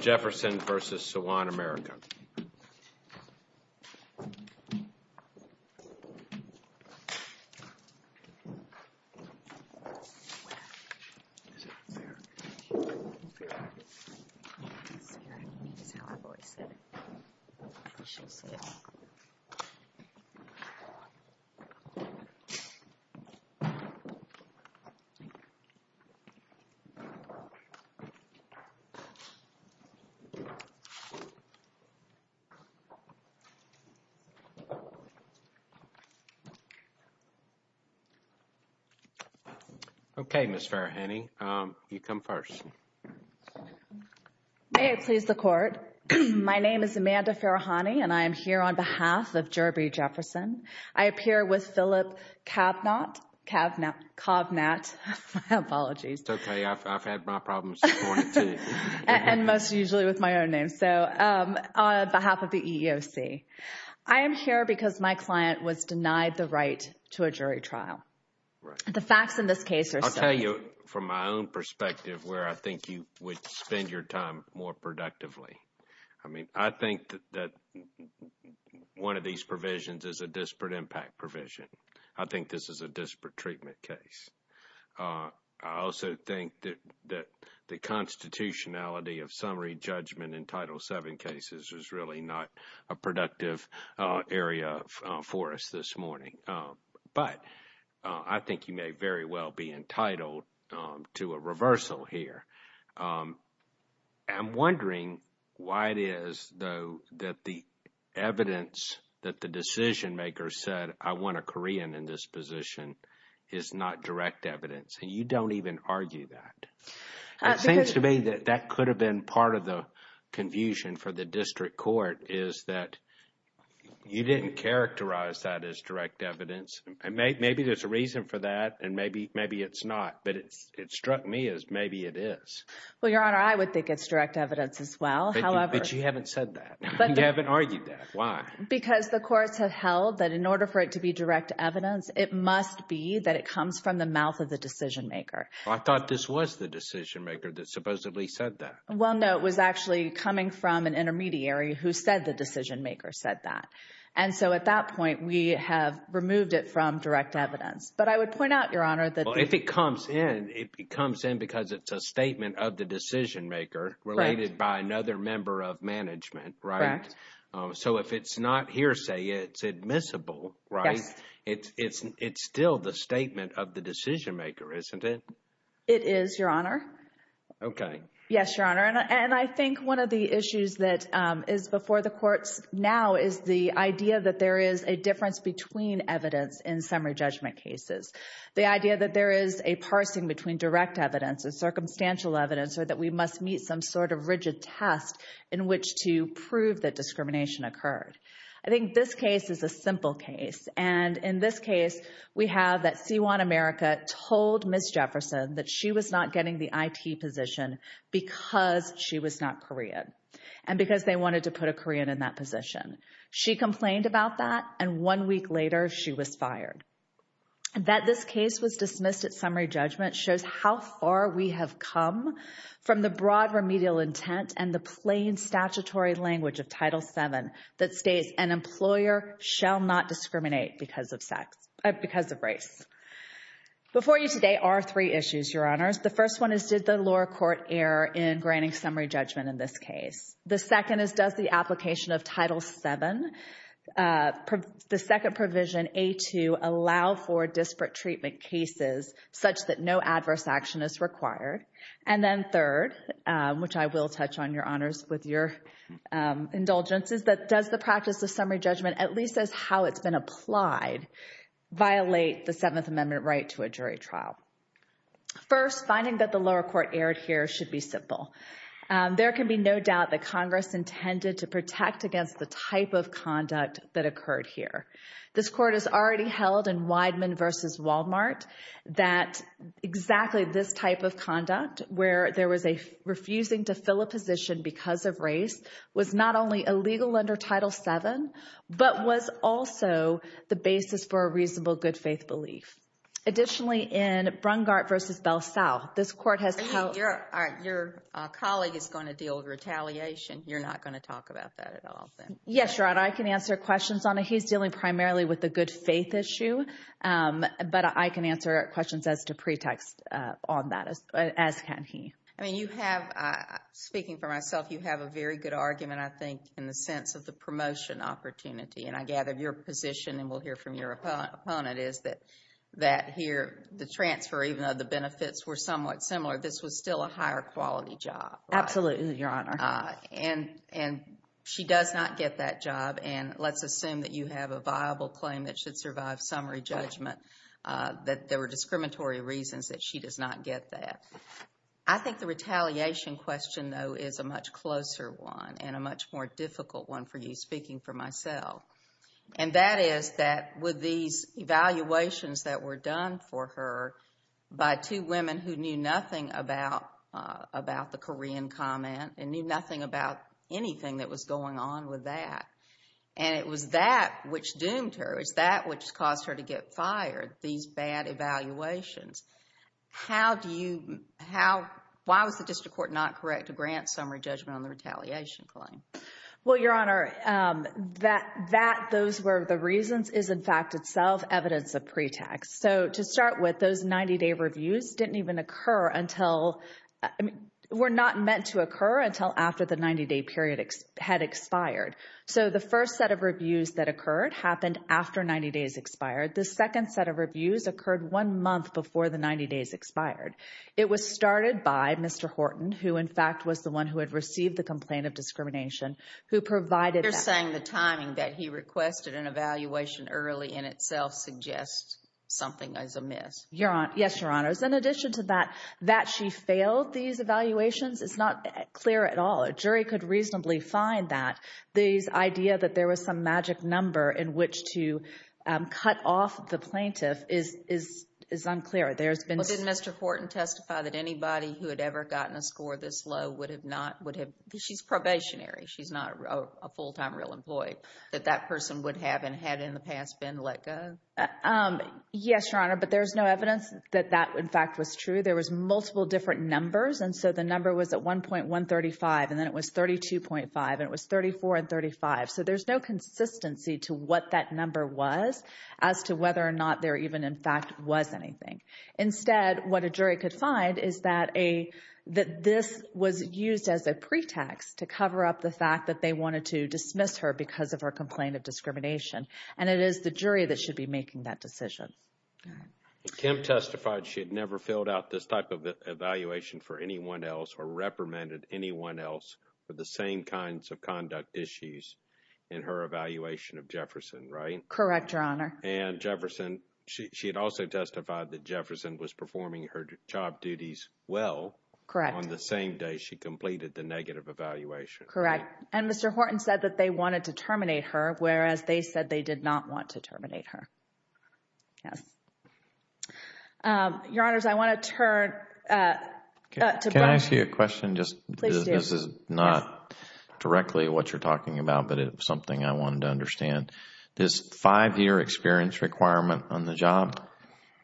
Jefferson v. Sewon America. Okay, Ms. Farahani, you come first. May it please the Court. My name is Amanda Farahani, and I am here on behalf of Jerberee Jefferson. I appear with Philip Kavnat. My apologies. It's okay. I've had my problems before, too. And most usually with my own name. So, on behalf of the EEOC, I am here because my client was denied the right to a jury trial. Right. The facts in this case are so— I'll tell you from my own perspective where I think you would spend your time more productively. I mean, I think that one of these provisions is a disparate impact provision. I think this is a disparate treatment case. I also think that the constitutionality of summary judgment in Title VII cases is really not a productive area for us this morning. But I think you may very well be entitled to a reversal here. I'm wondering why it is, though, that the evidence that the decision-maker said, I want a Korean in this position, is not direct evidence. And you don't even argue that. It seems to me that that could have been part of the confusion for the district court, is that you didn't characterize that as direct evidence. Maybe there's a reason for that, and maybe it's not. But it struck me as maybe it is. Well, Your Honor, I would think it's direct evidence as well. But you haven't said that. You haven't argued that. Why? Because the courts have held that in order for it to be direct evidence, it must be that it comes from the mouth of the decision-maker. I thought this was the decision-maker that supposedly said that. Well, no. It was actually coming from an intermediary who said the decision-maker said that. And so at that point, we have removed it from direct evidence. But I would point out, Your Honor, that the— Well, if it comes in, it comes in because it's a statement of the decision-maker related by another member of management, right? Correct. So if it's not hearsay, it's admissible, right? Yes. It's still the statement of the decision-maker, isn't it? It is, Your Honor. Okay. Yes, Your Honor. And I think one of the issues that is before the courts now is the idea that there is a difference between evidence in summary judgment cases, the idea that there is a parsing between direct evidence and circumstantial evidence or that we must meet some sort of rigid test in which to prove that discrimination occurred. I think this case is a simple case. And in this case, we have that C1 America told Ms. Jefferson that she was not getting the IT position because she was not Korean and because they wanted to put a Korean in that position. She complained about that, and one week later, she was fired. That this case was dismissed at summary judgment shows how far we have come from the broad remedial intent and the plain statutory language of Title VII that states an employer shall not discriminate because of race. Before you today are three issues, Your Honors. The first one is did the lower court err in granting summary judgment in this case? The second is does the application of Title VII, the second provision, A2, allow for disparate treatment cases such that no adverse action is required? And then third, which I will touch on, Your Honors, with your indulgences, that does the practice of summary judgment, at least as how it's been applied, violate the Seventh Amendment right to a jury trial? First, finding that the lower court erred here should be simple. There can be no doubt that Congress intended to protect against the type of conduct that occurred here. This court has already held in Wideman v. Wal-Mart that exactly this type of conduct, where there was a refusing to fill a position because of race, was not only illegal under Title VII, but was also the basis for a reasonable good-faith belief. Additionally, in Brungardt v. Belsall, this court has held- Your colleague is going to deal with retaliation. You're not going to talk about that at all, then? Yes, Your Honor. I can answer questions on it. He's dealing primarily with the good-faith issue, but I can answer questions as to pretext on that, as can he. Speaking for myself, you have a very good argument, I think, in the sense of the promotion opportunity. And I gather your position, and we'll hear from your opponent, is that here the transfer, even though the benefits were somewhat similar, this was still a higher-quality job. Absolutely, Your Honor. And she does not get that job, and let's assume that you have a viable claim that should survive summary judgment, that there were discriminatory reasons that she does not get that. I think the retaliation question, though, is a much closer one and a much more difficult one for you, speaking for myself. And that is that with these evaluations that were done for her by two women who knew nothing about the Korean comment and knew nothing about anything that was going on with that, and it was that which doomed her, it was that which caused her to get fired, these bad evaluations. How do you – why was the district court not correct to grant summary judgment on the retaliation claim? Well, Your Honor, that those were the reasons is in fact itself evidence of pretext. So to start with, those 90-day reviews didn't even occur until – were not meant to occur until after the 90-day period had expired. So the first set of reviews that occurred happened after 90 days expired. The second set of reviews occurred one month before the 90 days expired. It was started by Mr. Horton, who in fact was the one who had received the complaint of discrimination, who provided that. You're saying the timing that he requested an evaluation early in itself suggests something is amiss. Yes, Your Honors. In addition to that, that she failed these evaluations is not clear at all. A jury could reasonably find that. This idea that there was some magic number in which to cut off the plaintiff is unclear. There's been – Well, didn't Mr. Horton testify that anybody who had ever gotten a score this low would have not – would have – she's probationary. She's not a full-time real employee that that person would have and had in the past been let go? Yes, Your Honor, but there's no evidence that that in fact was true. There was multiple different numbers, and so the number was at 1.135, and then it was 32.5, and it was 34 and 35. So there's no consistency to what that number was as to whether or not there even in fact was anything. Instead, what a jury could find is that this was used as a pretext to cover up the fact that they wanted to dismiss her because of her complaint of discrimination, and it is the jury that should be making that decision. Kim testified she had never filled out this type of evaluation for anyone else or reprimanded anyone else for the same kinds of conduct issues in her evaluation of Jefferson, right? Correct, Your Honor. And Jefferson – she had also testified that Jefferson was performing her job duties well. Correct. On the same day she completed the negative evaluation. Correct. And Mr. Horton said that they wanted to terminate her, whereas they said they did not want to terminate her. Yes. Your Honors, I want to turn to – Can I ask you a question? Please do. This is not directly what you're talking about, but it's something I wanted to understand. This five-year experience requirement on the job,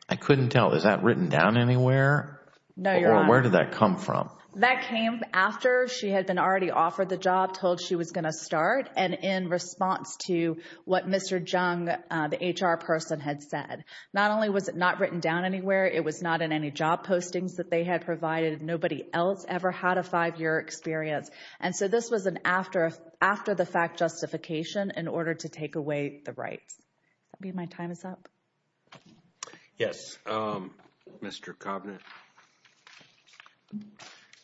I couldn't tell. Is that written down anywhere? No, Your Honor. Or where did that come from? That came after she had been already offered the job, told she was going to start, and in response to what Mr. Jung, the HR person, had said. Not only was it not written down anywhere, it was not in any job postings that they had provided. Nobody else ever had a five-year experience. And so this was an after-the-fact justification in order to take away the rights. I believe my time is up. Yes, Mr. Covenant.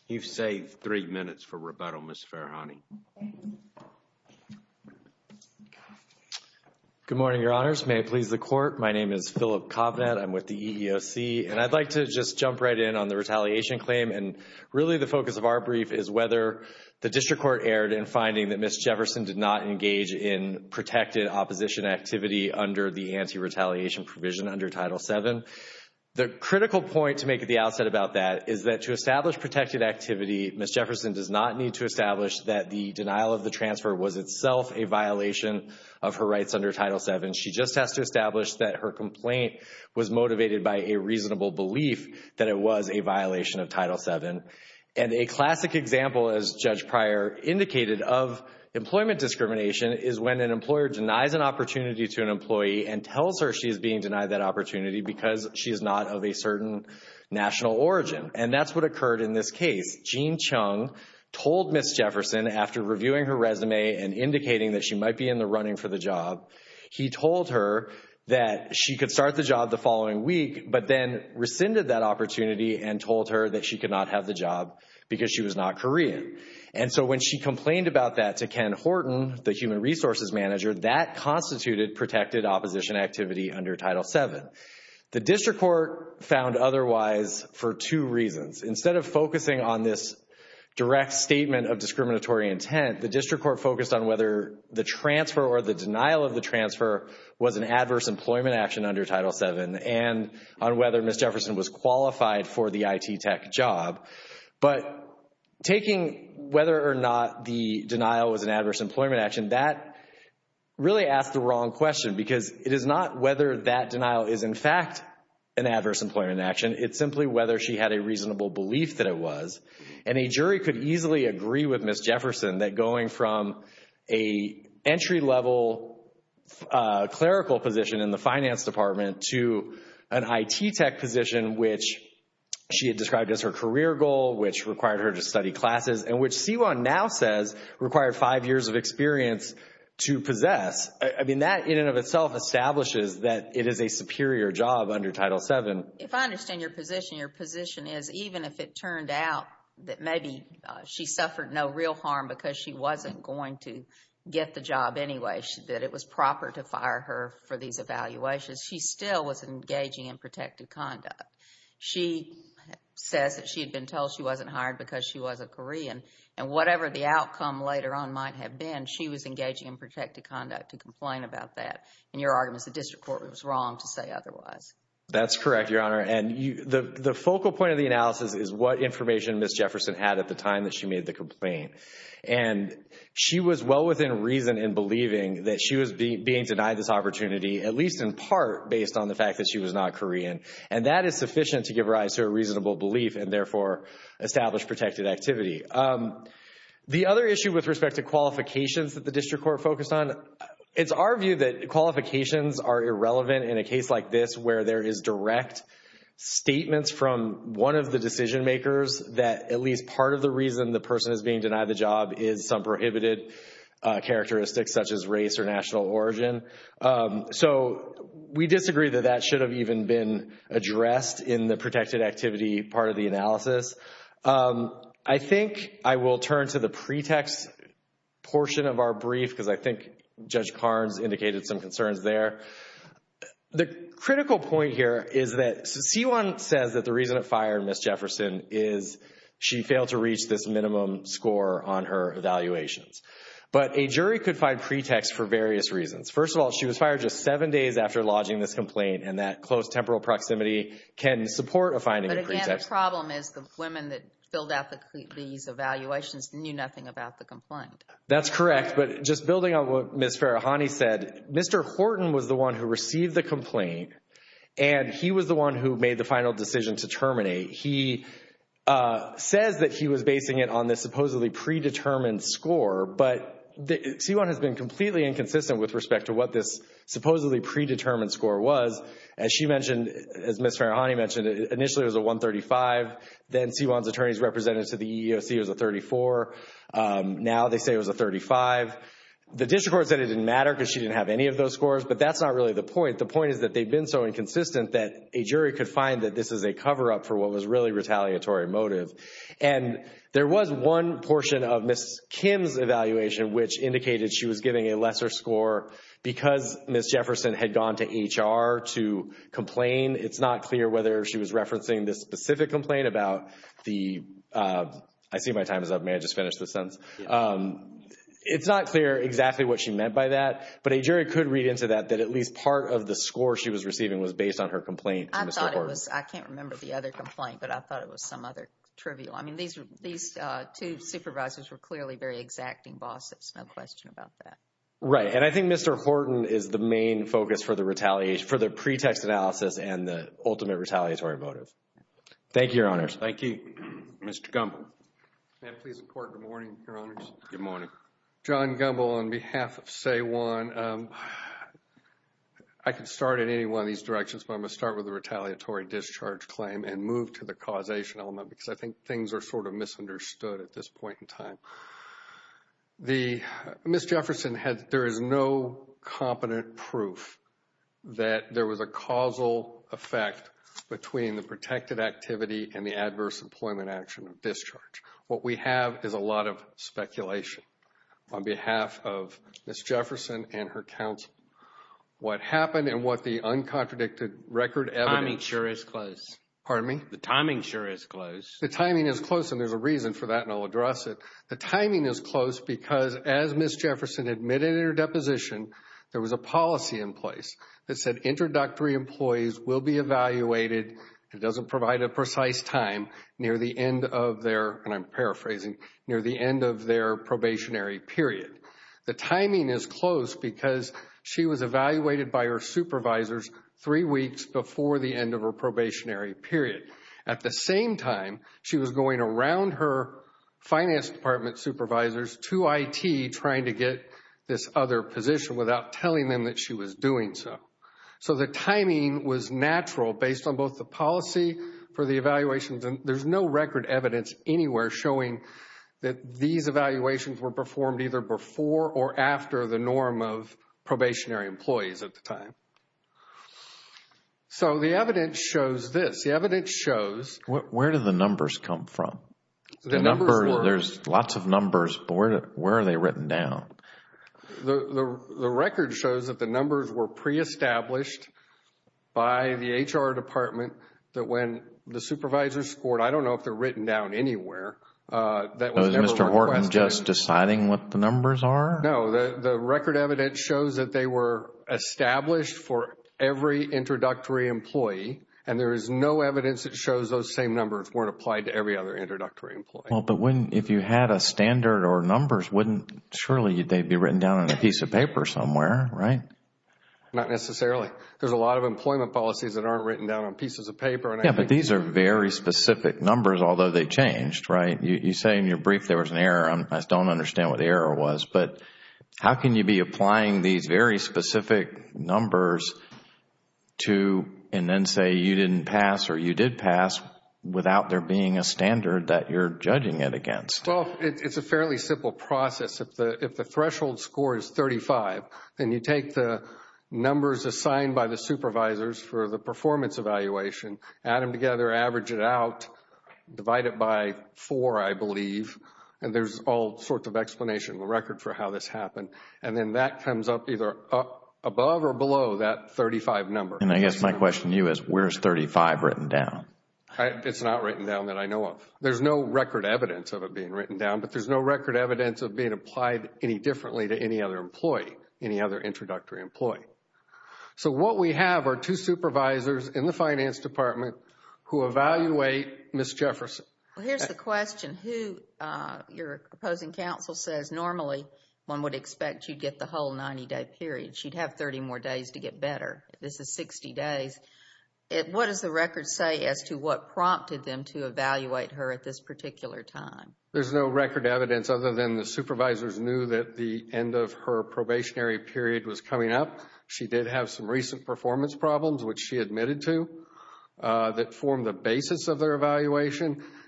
You've saved three minutes for rebuttal, Ms. Farahani. Good morning, Your Honors. May it please the Court. My name is Philip Covenant. I'm with the EEOC. And I'd like to just jump right in on the retaliation claim, and really the focus of our brief is whether the district court erred in finding that Ms. Jefferson did not engage in protected opposition activity under the anti-retaliation provision under Title VII. The critical point to make at the outset about that is that to establish protected activity, Ms. Jefferson does not need to establish that the denial of the transfer was itself a violation of her rights under Title VII. She just has to establish that her complaint was motivated by a reasonable belief that it was a violation of Title VII. And a classic example, as Judge Pryor indicated, of employment discrimination is when an employer denies an opportunity to an employee and tells her she is being denied that opportunity because she is not of a certain national origin. And that's what occurred in this case. Gene Chung told Ms. Jefferson, after reviewing her resume and indicating that she might be in the running for the job, he told her that she could start the job the following week, but then rescinded that opportunity and told her that she could not have the job because she was not Korean. And so when she complained about that to Ken Horton, the human resources manager, that constituted protected opposition activity under Title VII. The district court found otherwise for two reasons. Instead of focusing on this direct statement of discriminatory intent, the district court focused on whether the transfer or the denial of the transfer was an adverse employment action under Title VII and on whether Ms. Jefferson was qualified for the IT tech job. But taking whether or not the denial was an adverse employment action, that really asked the wrong question because it is not whether that denial is, in fact, an adverse employment action. It's simply whether she had a reasonable belief that it was. And a jury could easily agree with Ms. Jefferson that going from a entry level clerical position in the finance department to an IT tech position, which she had described as her career goal, which required her to study classes, and which Siwon now says required five years of experience to possess, I mean that in and of itself establishes that it is a superior job under Title VII. If I understand your position, your position is even if it turned out that maybe she suffered no real harm because she wasn't going to get the job anyway, that it was proper to fire her for these evaluations, she still was engaging in protective conduct. She says that she had been told she wasn't hired because she was a Korean, and whatever the outcome later on might have been, she was engaging in protective conduct to complain about that. And your argument is the district court was wrong to say otherwise. That's correct, Your Honor. And the focal point of the analysis is what information Ms. Jefferson had at the time that she made the complaint. And she was well within reason in believing that she was being denied this opportunity, at least in part based on the fact that she was not Korean. And that is sufficient to give rise to a reasonable belief and therefore establish protected activity. The other issue with respect to qualifications that the district court focused on, it's our view that qualifications are irrelevant in a case like this where there is direct statements from one of the decision makers that at least part of the reason the person is being denied the job is some prohibited characteristics such as race or national origin. So we disagree that that should have even been addressed in the protected activity part of the analysis. I think I will turn to the pretext portion of our brief because I think Judge Carnes indicated some concerns there. The critical point here is that C1 says that the reason it fired Ms. Jefferson is she failed to reach this minimum score on her evaluations. But a jury could find pretext for various reasons. First of all, she was fired just seven days after lodging this complaint, and that close temporal proximity can support a finding of pretext. And the problem is the women that filled out these evaluations knew nothing about the complaint. That's correct, but just building on what Ms. Farahani said, Mr. Horton was the one who received the complaint, and he was the one who made the final decision to terminate. He says that he was basing it on this supposedly predetermined score, but C1 has been completely inconsistent with respect to what this supposedly predetermined score was. As she mentioned, as Ms. Farahani mentioned, initially it was a 135. Then C1's attorneys represented to the EEOC it was a 34. Now they say it was a 35. The district court said it didn't matter because she didn't have any of those scores, but that's not really the point. The point is that they've been so inconsistent that a jury could find that this is a cover-up for what was really retaliatory motive. And there was one portion of Ms. Kim's evaluation which indicated she was giving a lesser score because Ms. Jefferson had gone to HR to complain. It's not clear whether she was referencing this specific complaint about the – I see my time is up. May I just finish this sentence? It's not clear exactly what she meant by that, but a jury could read into that that at least part of the score she was receiving was based on her complaint to Mr. Horton. I thought it was – I can't remember the other complaint, but I thought it was some other trivial. I mean, these two supervisors were clearly very exacting bosses, no question about that. Right. And I think Mr. Horton is the main focus for the pretext analysis and the ultimate retaliatory motive. Thank you, Your Honors. Thank you. Mr. Gumbel. May I please record good morning, Your Honors? Good morning. John Gumbel on behalf of SAE 1. I can start at any one of these directions, but I'm going to start with the retaliatory discharge claim and move to the causation element because I think things are sort of misunderstood at this point in time. The – Ms. Jefferson had – there is no competent proof that there was a causal effect between the protected activity and the adverse employment action of discharge. What we have is a lot of speculation on behalf of Ms. Jefferson and her counsel. What happened and what the uncontradicted record evidence – Timing sure is close. Pardon me? The timing sure is close. The timing is close, and there's a reason for that, and I'll address it. The timing is close because as Ms. Jefferson admitted in her deposition, there was a policy in place that said introductory employees will be evaluated. It doesn't provide a precise time near the end of their – and I'm paraphrasing – near the end of their probationary period. The timing is close because she was evaluated by her supervisors three weeks before the end of her probationary period. At the same time, she was going around her finance department supervisors to IT trying to get this other position without telling them that she was doing so. So the timing was natural based on both the policy for the evaluations, and there's no record evidence anywhere showing that these evaluations were performed either before or after the norm of probationary employees at the time. So the evidence shows this. The evidence shows – Where do the numbers come from? The numbers were – There's lots of numbers, but where are they written down? The record shows that the numbers were pre-established by the HR department that when the supervisors scored – I don't know if they're written down anywhere – Was Mr. Horton just deciding what the numbers are? No. The record evidence shows that they were established for every introductory employee, and there is no evidence that shows those same numbers weren't applied to every other introductory employee. If you had a standard or numbers, surely they'd be written down on a piece of paper somewhere, right? Not necessarily. There's a lot of employment policies that aren't written down on pieces of paper. Yeah, but these are very specific numbers, although they changed, right? You say in your brief there was an error. I don't understand what the error was. How can you be applying these very specific numbers and then say you didn't pass or you did pass without there being a standard that you're judging it against? Well, it's a fairly simple process. If the threshold score is 35, then you take the numbers assigned by the supervisors for the performance evaluation, add them together, average it out, divide it by four, I believe, and there's all sorts of explanation. The record for how this happened, and then that comes up either above or below that 35 number. And I guess my question to you is where is 35 written down? It's not written down that I know of. There's no record evidence of it being written down, but there's no record evidence of it being applied any differently to any other employee, any other introductory employee. So what we have are two supervisors in the finance department who evaluate Ms. Jefferson. Well, here's the question. Your opposing counsel says normally one would expect you'd get the whole 90-day period. She'd have 30 more days to get better. This is 60 days. What does the record say as to what prompted them to evaluate her at this particular time? There's no record evidence other than the supervisors knew that the end of her probationary period was coming up. She did have some recent performance problems, which she admitted to, that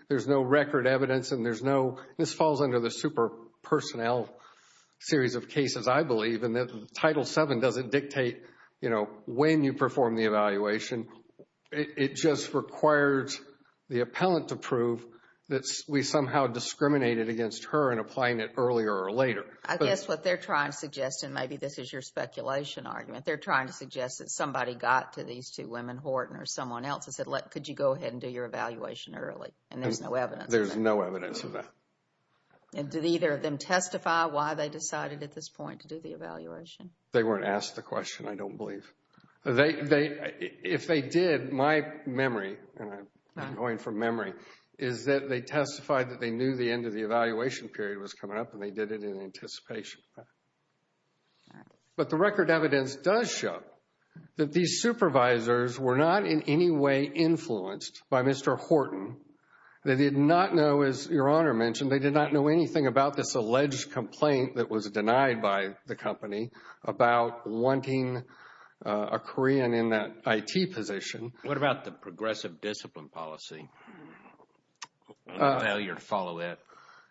there's no record evidence and there's no – this falls under the super personnel series of cases, I believe. And Title VII doesn't dictate, you know, when you perform the evaluation. It just requires the appellant to prove that we somehow discriminated against her in applying it earlier or later. I guess what they're trying to suggest, and maybe this is your speculation argument, they're trying to suggest that somebody got to these two women, Horton or someone else, and said, could you go ahead and do your evaluation early? And there's no evidence of that. There's no evidence of that. And did either of them testify why they decided at this point to do the evaluation? They weren't asked the question, I don't believe. If they did, my memory, and I'm going from memory, is that they testified that they knew the end of the evaluation period was coming up and they did it in anticipation. But the record evidence does show that these supervisors were not in any way influenced by Mr. Horton. They did not know, as Your Honor mentioned, they did not know anything about this alleged complaint that was denied by the company about wanting a Korean in that IT position. What about the progressive discipline policy? Failure to follow that?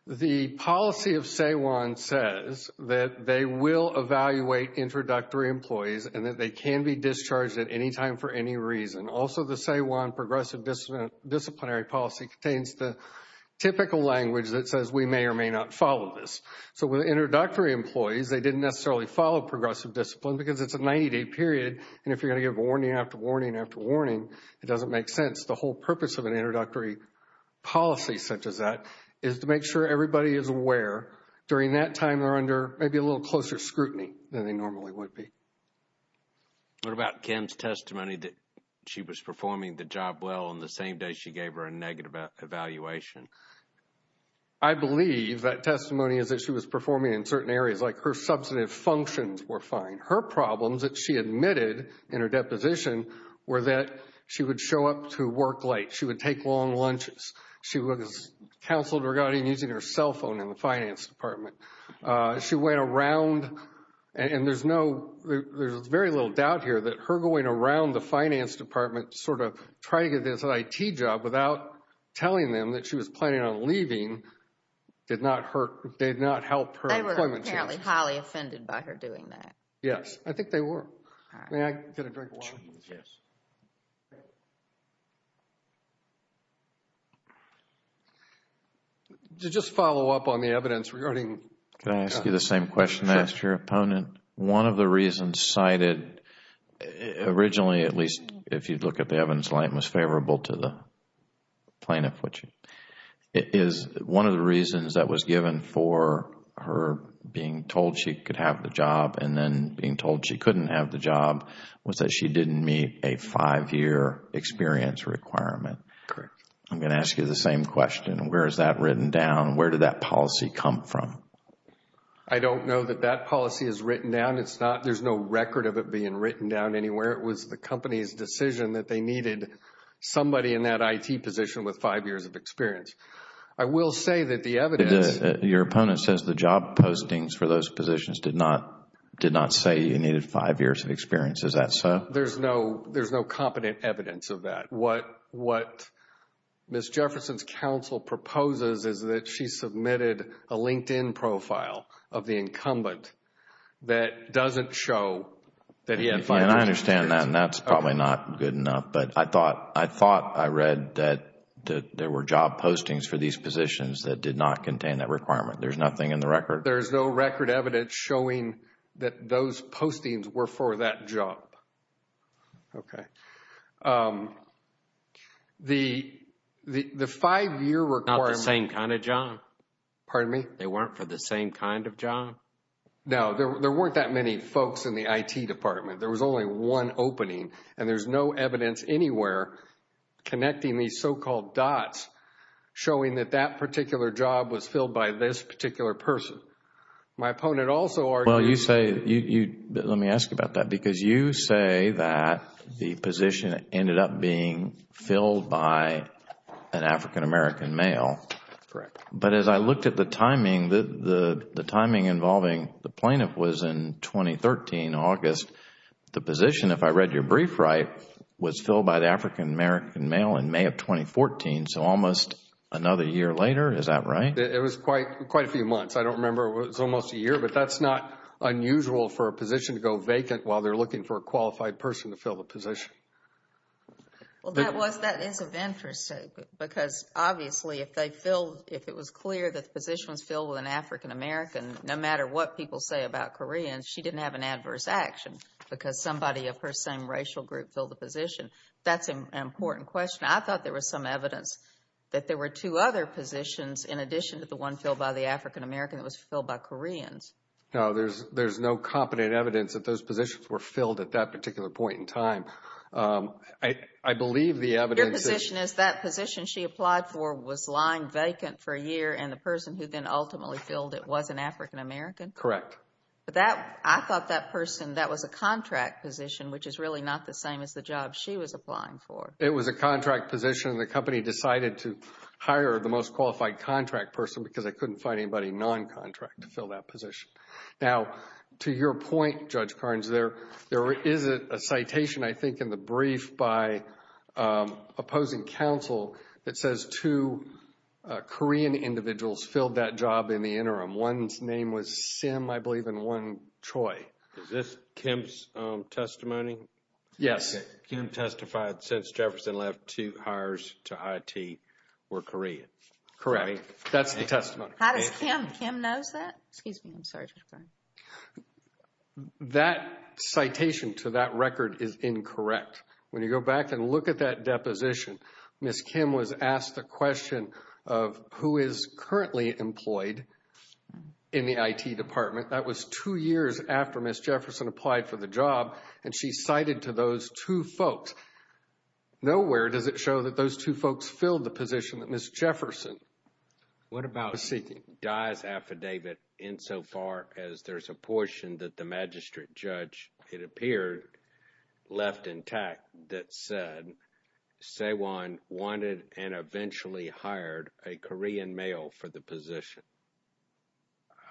The policy of SAEWON says that they will evaluate introductory employees and that they can be discharged at any time for any reason. Also, the SAEWON progressive disciplinary policy contains the typical language that says we may or may not follow this. So with introductory employees, they didn't necessarily follow progressive discipline because it's a 90-day period, and if you're going to give warning after warning after warning, it doesn't make sense. The whole purpose of an introductory policy such as that is to make sure everybody is aware. During that time, they're under maybe a little closer scrutiny than they normally would be. What about Kim's testimony that she was performing the job well on the same day she gave her a negative evaluation? I believe that testimony is that she was performing in certain areas, like her substantive functions were fine. Her problems that she admitted in her deposition were that she would show up to work late, she would take long lunches, she was counseled regarding using her cell phone in the finance department. She went around, and there's very little doubt here that her going around the finance department sort of trying to get this IT job without telling them that she was planning on leaving did not help her employment chances. They were apparently highly offended by her doing that. Yes, I think they were. May I get a drink of water? Yes. To just follow up on the evidence regarding Can I ask you the same question I asked your opponent? Sure. One of the reasons cited originally, at least if you look at the evidence, it was favorable to the plaintiff, which is one of the reasons that was given for her being told she could have the job and then being told she couldn't have the job was that she didn't meet a five-year experience requirement. Correct. I'm going to ask you the same question. Where is that written down? Where did that policy come from? I don't know that that policy is written down. There's no record of it being written down anywhere. It was the company's decision that they needed somebody in that IT position with five years of experience. I will say that the evidence Your opponent says the job postings for those positions did not say you needed five years of experience. Is that so? There's no competent evidence of that. What Ms. Jefferson's counsel proposes is that she submitted a LinkedIn profile of the incumbent that doesn't show that he had five years. I understand that and that's probably not good enough. But I thought I read that there were job postings for these positions that did not contain that requirement. There's nothing in the record. There's no record evidence showing that those postings were for that job. Okay. The five-year requirement Not the same kind of job. Pardon me? They weren't for the same kind of job? No, there weren't that many folks in the IT department. There was only one opening and there's no evidence anywhere connecting these so-called dots showing that that particular job was filled by this particular person. My opponent also argues Well, let me ask you about that. Because you say that the position ended up being filled by an African-American male. Correct. But as I looked at the timing, the timing involving the plaintiff was in 2013, August. The position, if I read your brief right, was filled by the African-American male in May of 2014. So almost another year later, is that right? It was quite a few months. I don't remember. It was almost a year. But that's not unusual for a position to go vacant while they're looking for a qualified person to fill the position. Well, that is of interest. Because, obviously, if it was clear that the position was filled with an African-American, no matter what people say about Koreans, she didn't have an adverse action because somebody of her same racial group filled the position. That's an important question. I thought there was some evidence that there were two other positions in addition to the one filled by the African-American that was filled by Koreans. No, there's no competent evidence that those positions were filled at that particular point in time. I believe the evidence is Your position is that position she applied for was lying vacant for a year and the person who then ultimately filled it was an African-American? Correct. I thought that person, that was a contract position, which is really not the same as the job she was applying for. It was a contract position. The company decided to hire the most qualified contract person because they couldn't find anybody non-contract to fill that position. Now, to your point, Judge Carnes, there is a citation, I think, in the brief by opposing counsel that says two Korean individuals filled that job in the interim. One's name was Sim, I believe, and one Choi. Is this Kim's testimony? Yes. Kim testified since Jefferson left, two hires to IT were Korean. Correct. That's the testimony. How does Kim know that? Excuse me, I'm sorry, Judge Carnes. That citation to that record is incorrect. When you go back and look at that deposition, Ms. Kim was asked the question of who is currently employed in the IT department. That was two years after Ms. Jefferson applied for the job and she cited to those two folks. Nowhere does it show that those two folks filled the position that Ms. Jefferson was seeking. What about Dye's affidavit insofar as there's a portion that the magistrate judge, it appeared, left intact that said Saewon wanted and eventually hired a Korean male for the position?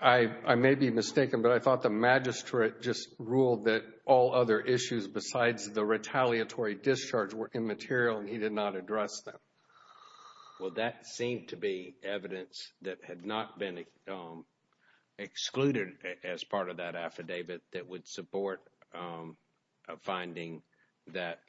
I may be mistaken, but I thought the magistrate just ruled that all other issues besides the retaliatory discharge were immaterial and he did not address them. Well, that seemed to be evidence that had not been excluded as part of that affidavit that would support a finding that,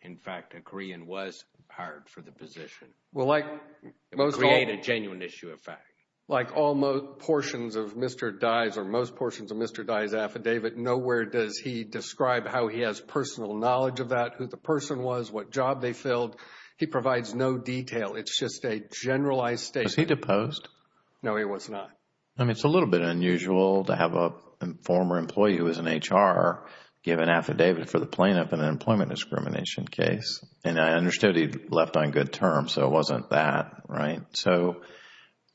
in fact, a Korean was hired for the position. It would create a genuine issue of fact. Like all portions of Mr. Dye's or most portions of Mr. Dye's affidavit, nowhere does he describe how he has personal knowledge of that, who the person was, what job they filled. He provides no detail. It's just a generalized statement. Was he deposed? No, he was not. I mean, it's a little bit unusual to have a former employee who was in HR give an affidavit for the plaintiff in an employment discrimination case. And I understood he left on good terms, so it wasn't that, right? So,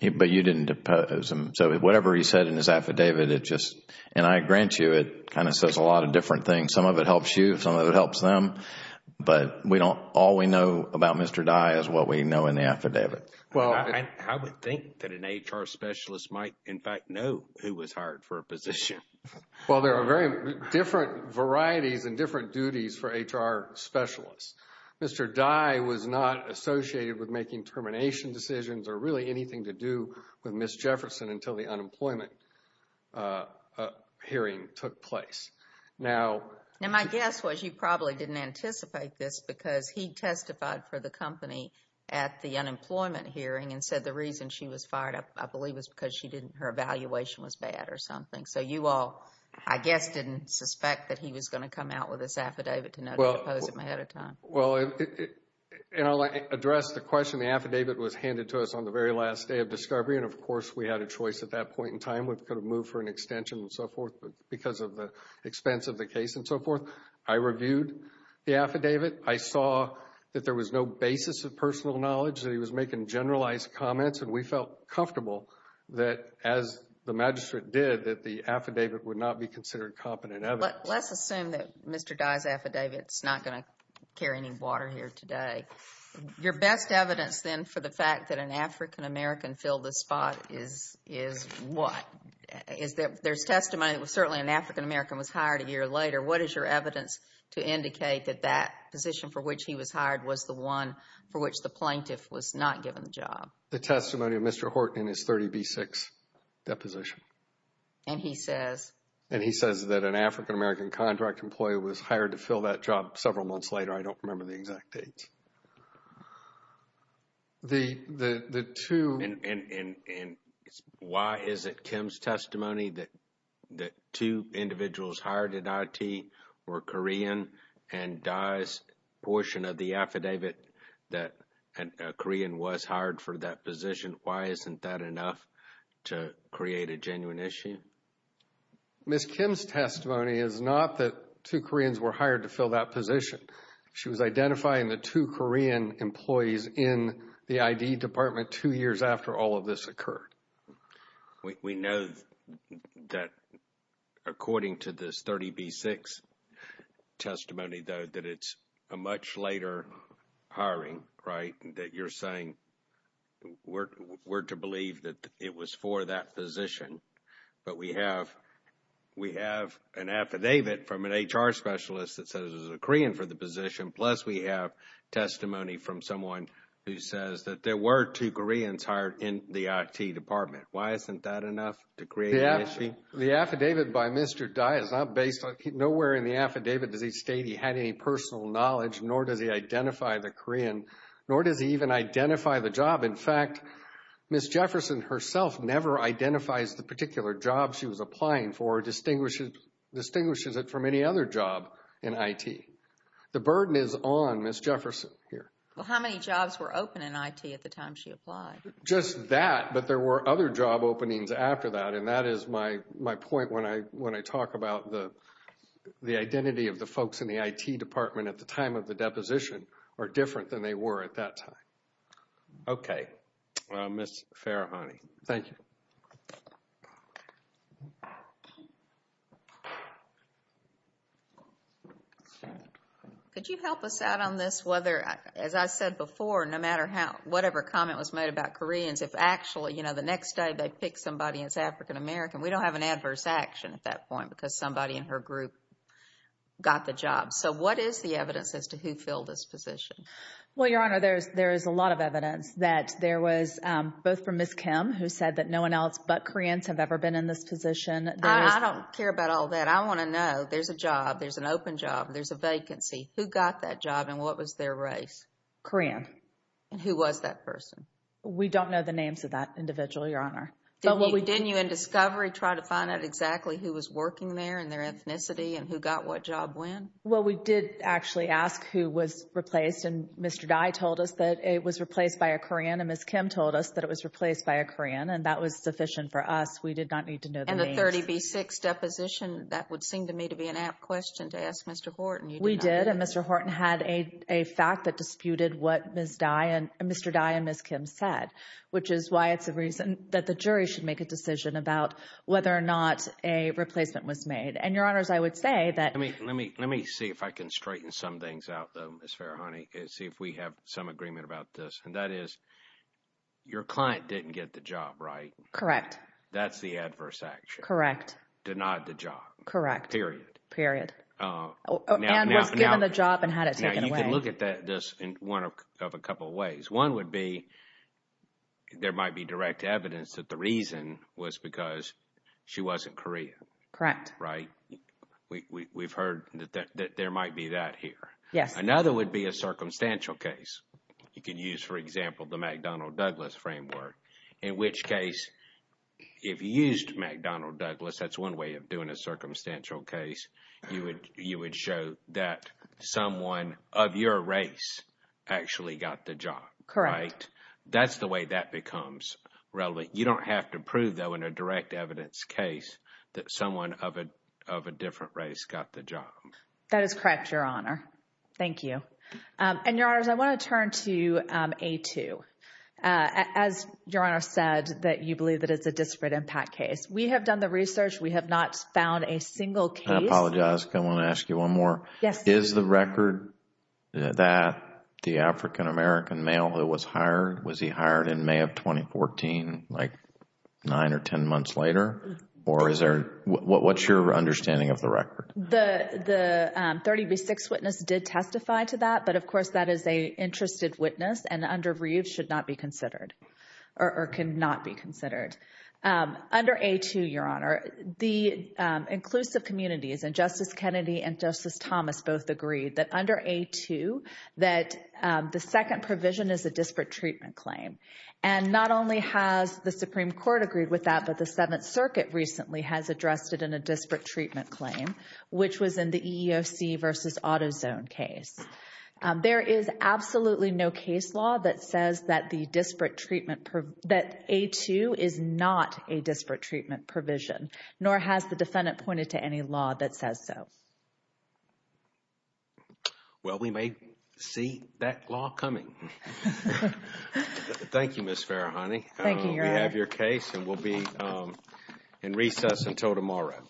but you didn't depose him. So whatever he said in his affidavit, it just, and I grant you, it kind of says a lot of different things. Some of it helps you. Some of it helps them. But all we know about Mr. Dye is what we know in the affidavit. Well, I would think that an HR specialist might, in fact, know who was hired for a position. Well, there are very different varieties and different duties for HR specialists. Mr. Dye was not associated with making termination decisions or really anything to do with Ms. Jefferson until the unemployment hearing took place. Now, Now, my guess was you probably didn't anticipate this because he testified for the company at the unemployment hearing and said the reason she was fired, I believe, was because she didn't, her evaluation was bad or something. So you all, I guess, didn't suspect that he was going to come out with this affidavit Well, and I'll address the question. The affidavit was handed to us on the very last day of discovery, and, of course, we had a choice at that point in time. We could have moved for an extension and so forth, but because of the expense of the case and so forth, I reviewed the affidavit. I saw that there was no basis of personal knowledge, that he was making generalized comments, and we felt comfortable that, as the magistrate did, that the affidavit would not be considered competent evidence. Let's assume that Mr. Dye's affidavit is not going to carry any water here today. Your best evidence, then, for the fact that an African-American filled the spot is what? There's testimony that certainly an African-American was hired a year later. What is your evidence to indicate that that position for which he was hired was the one for which the plaintiff was not given the job? The testimony of Mr. Horton in his 30B6 deposition. And he says? Yes. And he says that an African-American contract employee was hired to fill that job several months later. I don't remember the exact dates. The two… And why is it, Kim's testimony, that two individuals hired at IT were Korean and Dye's portion of the affidavit that a Korean was hired for that position? Why isn't that enough to create a genuine issue? Ms. Kim's testimony is not that two Koreans were hired to fill that position. She was identifying the two Korean employees in the ID department two years after all of this occurred. We know that according to this 30B6 testimony, though, that it's a much later hiring, right? That you're saying we're to believe that it was for that position. But we have an affidavit from an HR specialist that says it was a Korean for the position, plus we have testimony from someone who says that there were two Koreans hired in the IT department. Why isn't that enough to create an issue? The affidavit by Mr. Dye is not based on… Nowhere in the affidavit does he state he had any personal knowledge, nor does he identify the Korean, nor does he even identify the job. In fact, Ms. Jefferson herself never identifies the particular job she was applying for, or distinguishes it from any other job in IT. The burden is on Ms. Jefferson here. Well, how many jobs were open in IT at the time she applied? Just that, but there were other job openings after that, and that is my point when I talk about the identity of the folks in the IT department at the time of the deposition are different than they were at that time. Okay. Ms. Farahani. Thank you. Could you help us out on this, whether, as I said before, no matter whatever comment was made about Koreans, if actually the next day they pick somebody that's African American, we don't have an adverse action at that point because somebody in her group got the job. So what is the evidence as to who filled this position? Well, Your Honor, there is a lot of evidence that there was both from Ms. Kim, who said that no one else but Koreans have ever been in this position. I don't care about all that. I want to know there's a job, there's an open job, there's a vacancy. Who got that job and what was their race? Korean. And who was that person? We don't know the names of that individual, Your Honor. Didn't you in discovery try to find out exactly who was working there and their ethnicity and who got what job when? Well, we did actually ask who was replaced, and Mr. Dye told us that it was replaced by a Korean and Ms. Kim told us that it was replaced by a Korean, and that was sufficient for us. We did not need to know the names. And the 30B6 deposition, that would seem to me to be an apt question to ask Mr. Horton. We did, and Mr. Horton had a fact that disputed what Mr. Dye and Ms. Kim said, which is why it's a reason that the jury should make a decision about whether or not a replacement was made. And, Your Honors, I would say that— Let me see if I can straighten some things out, though, Ms. Farahani, and see if we have some agreement about this, and that is your client didn't get the job, right? Correct. That's the adverse action. Correct. Denied the job. Correct. Period. Period. And was given the job and had it taken away. Now, you can look at this in one of a couple of ways. One would be there might be direct evidence that the reason was because she wasn't Korean. Correct. Right? We've heard that there might be that here. Yes. Another would be a circumstantial case. You can use, for example, the McDonnell-Douglas framework, in which case if you used McDonnell-Douglas, that's one way of doing a circumstantial case, you would show that someone of your race actually got the job, right? Correct. That's the way that becomes relevant. You don't have to prove, though, in a direct evidence case that someone of a different race got the job. That is correct, Your Honor. Thank you. And, Your Honors, I want to turn to A2. As Your Honor said, that you believe that it's a disparate impact case. We have done the research. We have not found a single case— I apologize. I want to ask you one more. Yes. Is the record that the African-American male who was hired, was he hired in May of 2014, like nine or ten months later? Or is there—what's your understanding of the record? The 30B6 witness did testify to that, but, of course, that is an interested witness and under review should not be considered or cannot be considered. Under A2, Your Honor, the inclusive communities, and Justice Kennedy and Justice Thomas both agreed, that under A2 that the second provision is a disparate treatment claim. And not only has the Supreme Court agreed with that, but the Seventh Circuit recently has addressed it in a disparate treatment claim, which was in the EEOC versus AutoZone case. There is absolutely no case law that says that the disparate treatment— that A2 is not a disparate treatment provision, nor has the defendant pointed to any law that says so. Well, we may see that law coming. Thank you, Ms. Farahani. Thank you, Your Honor. We have your case and we'll be in recess until tomorrow. Thank you.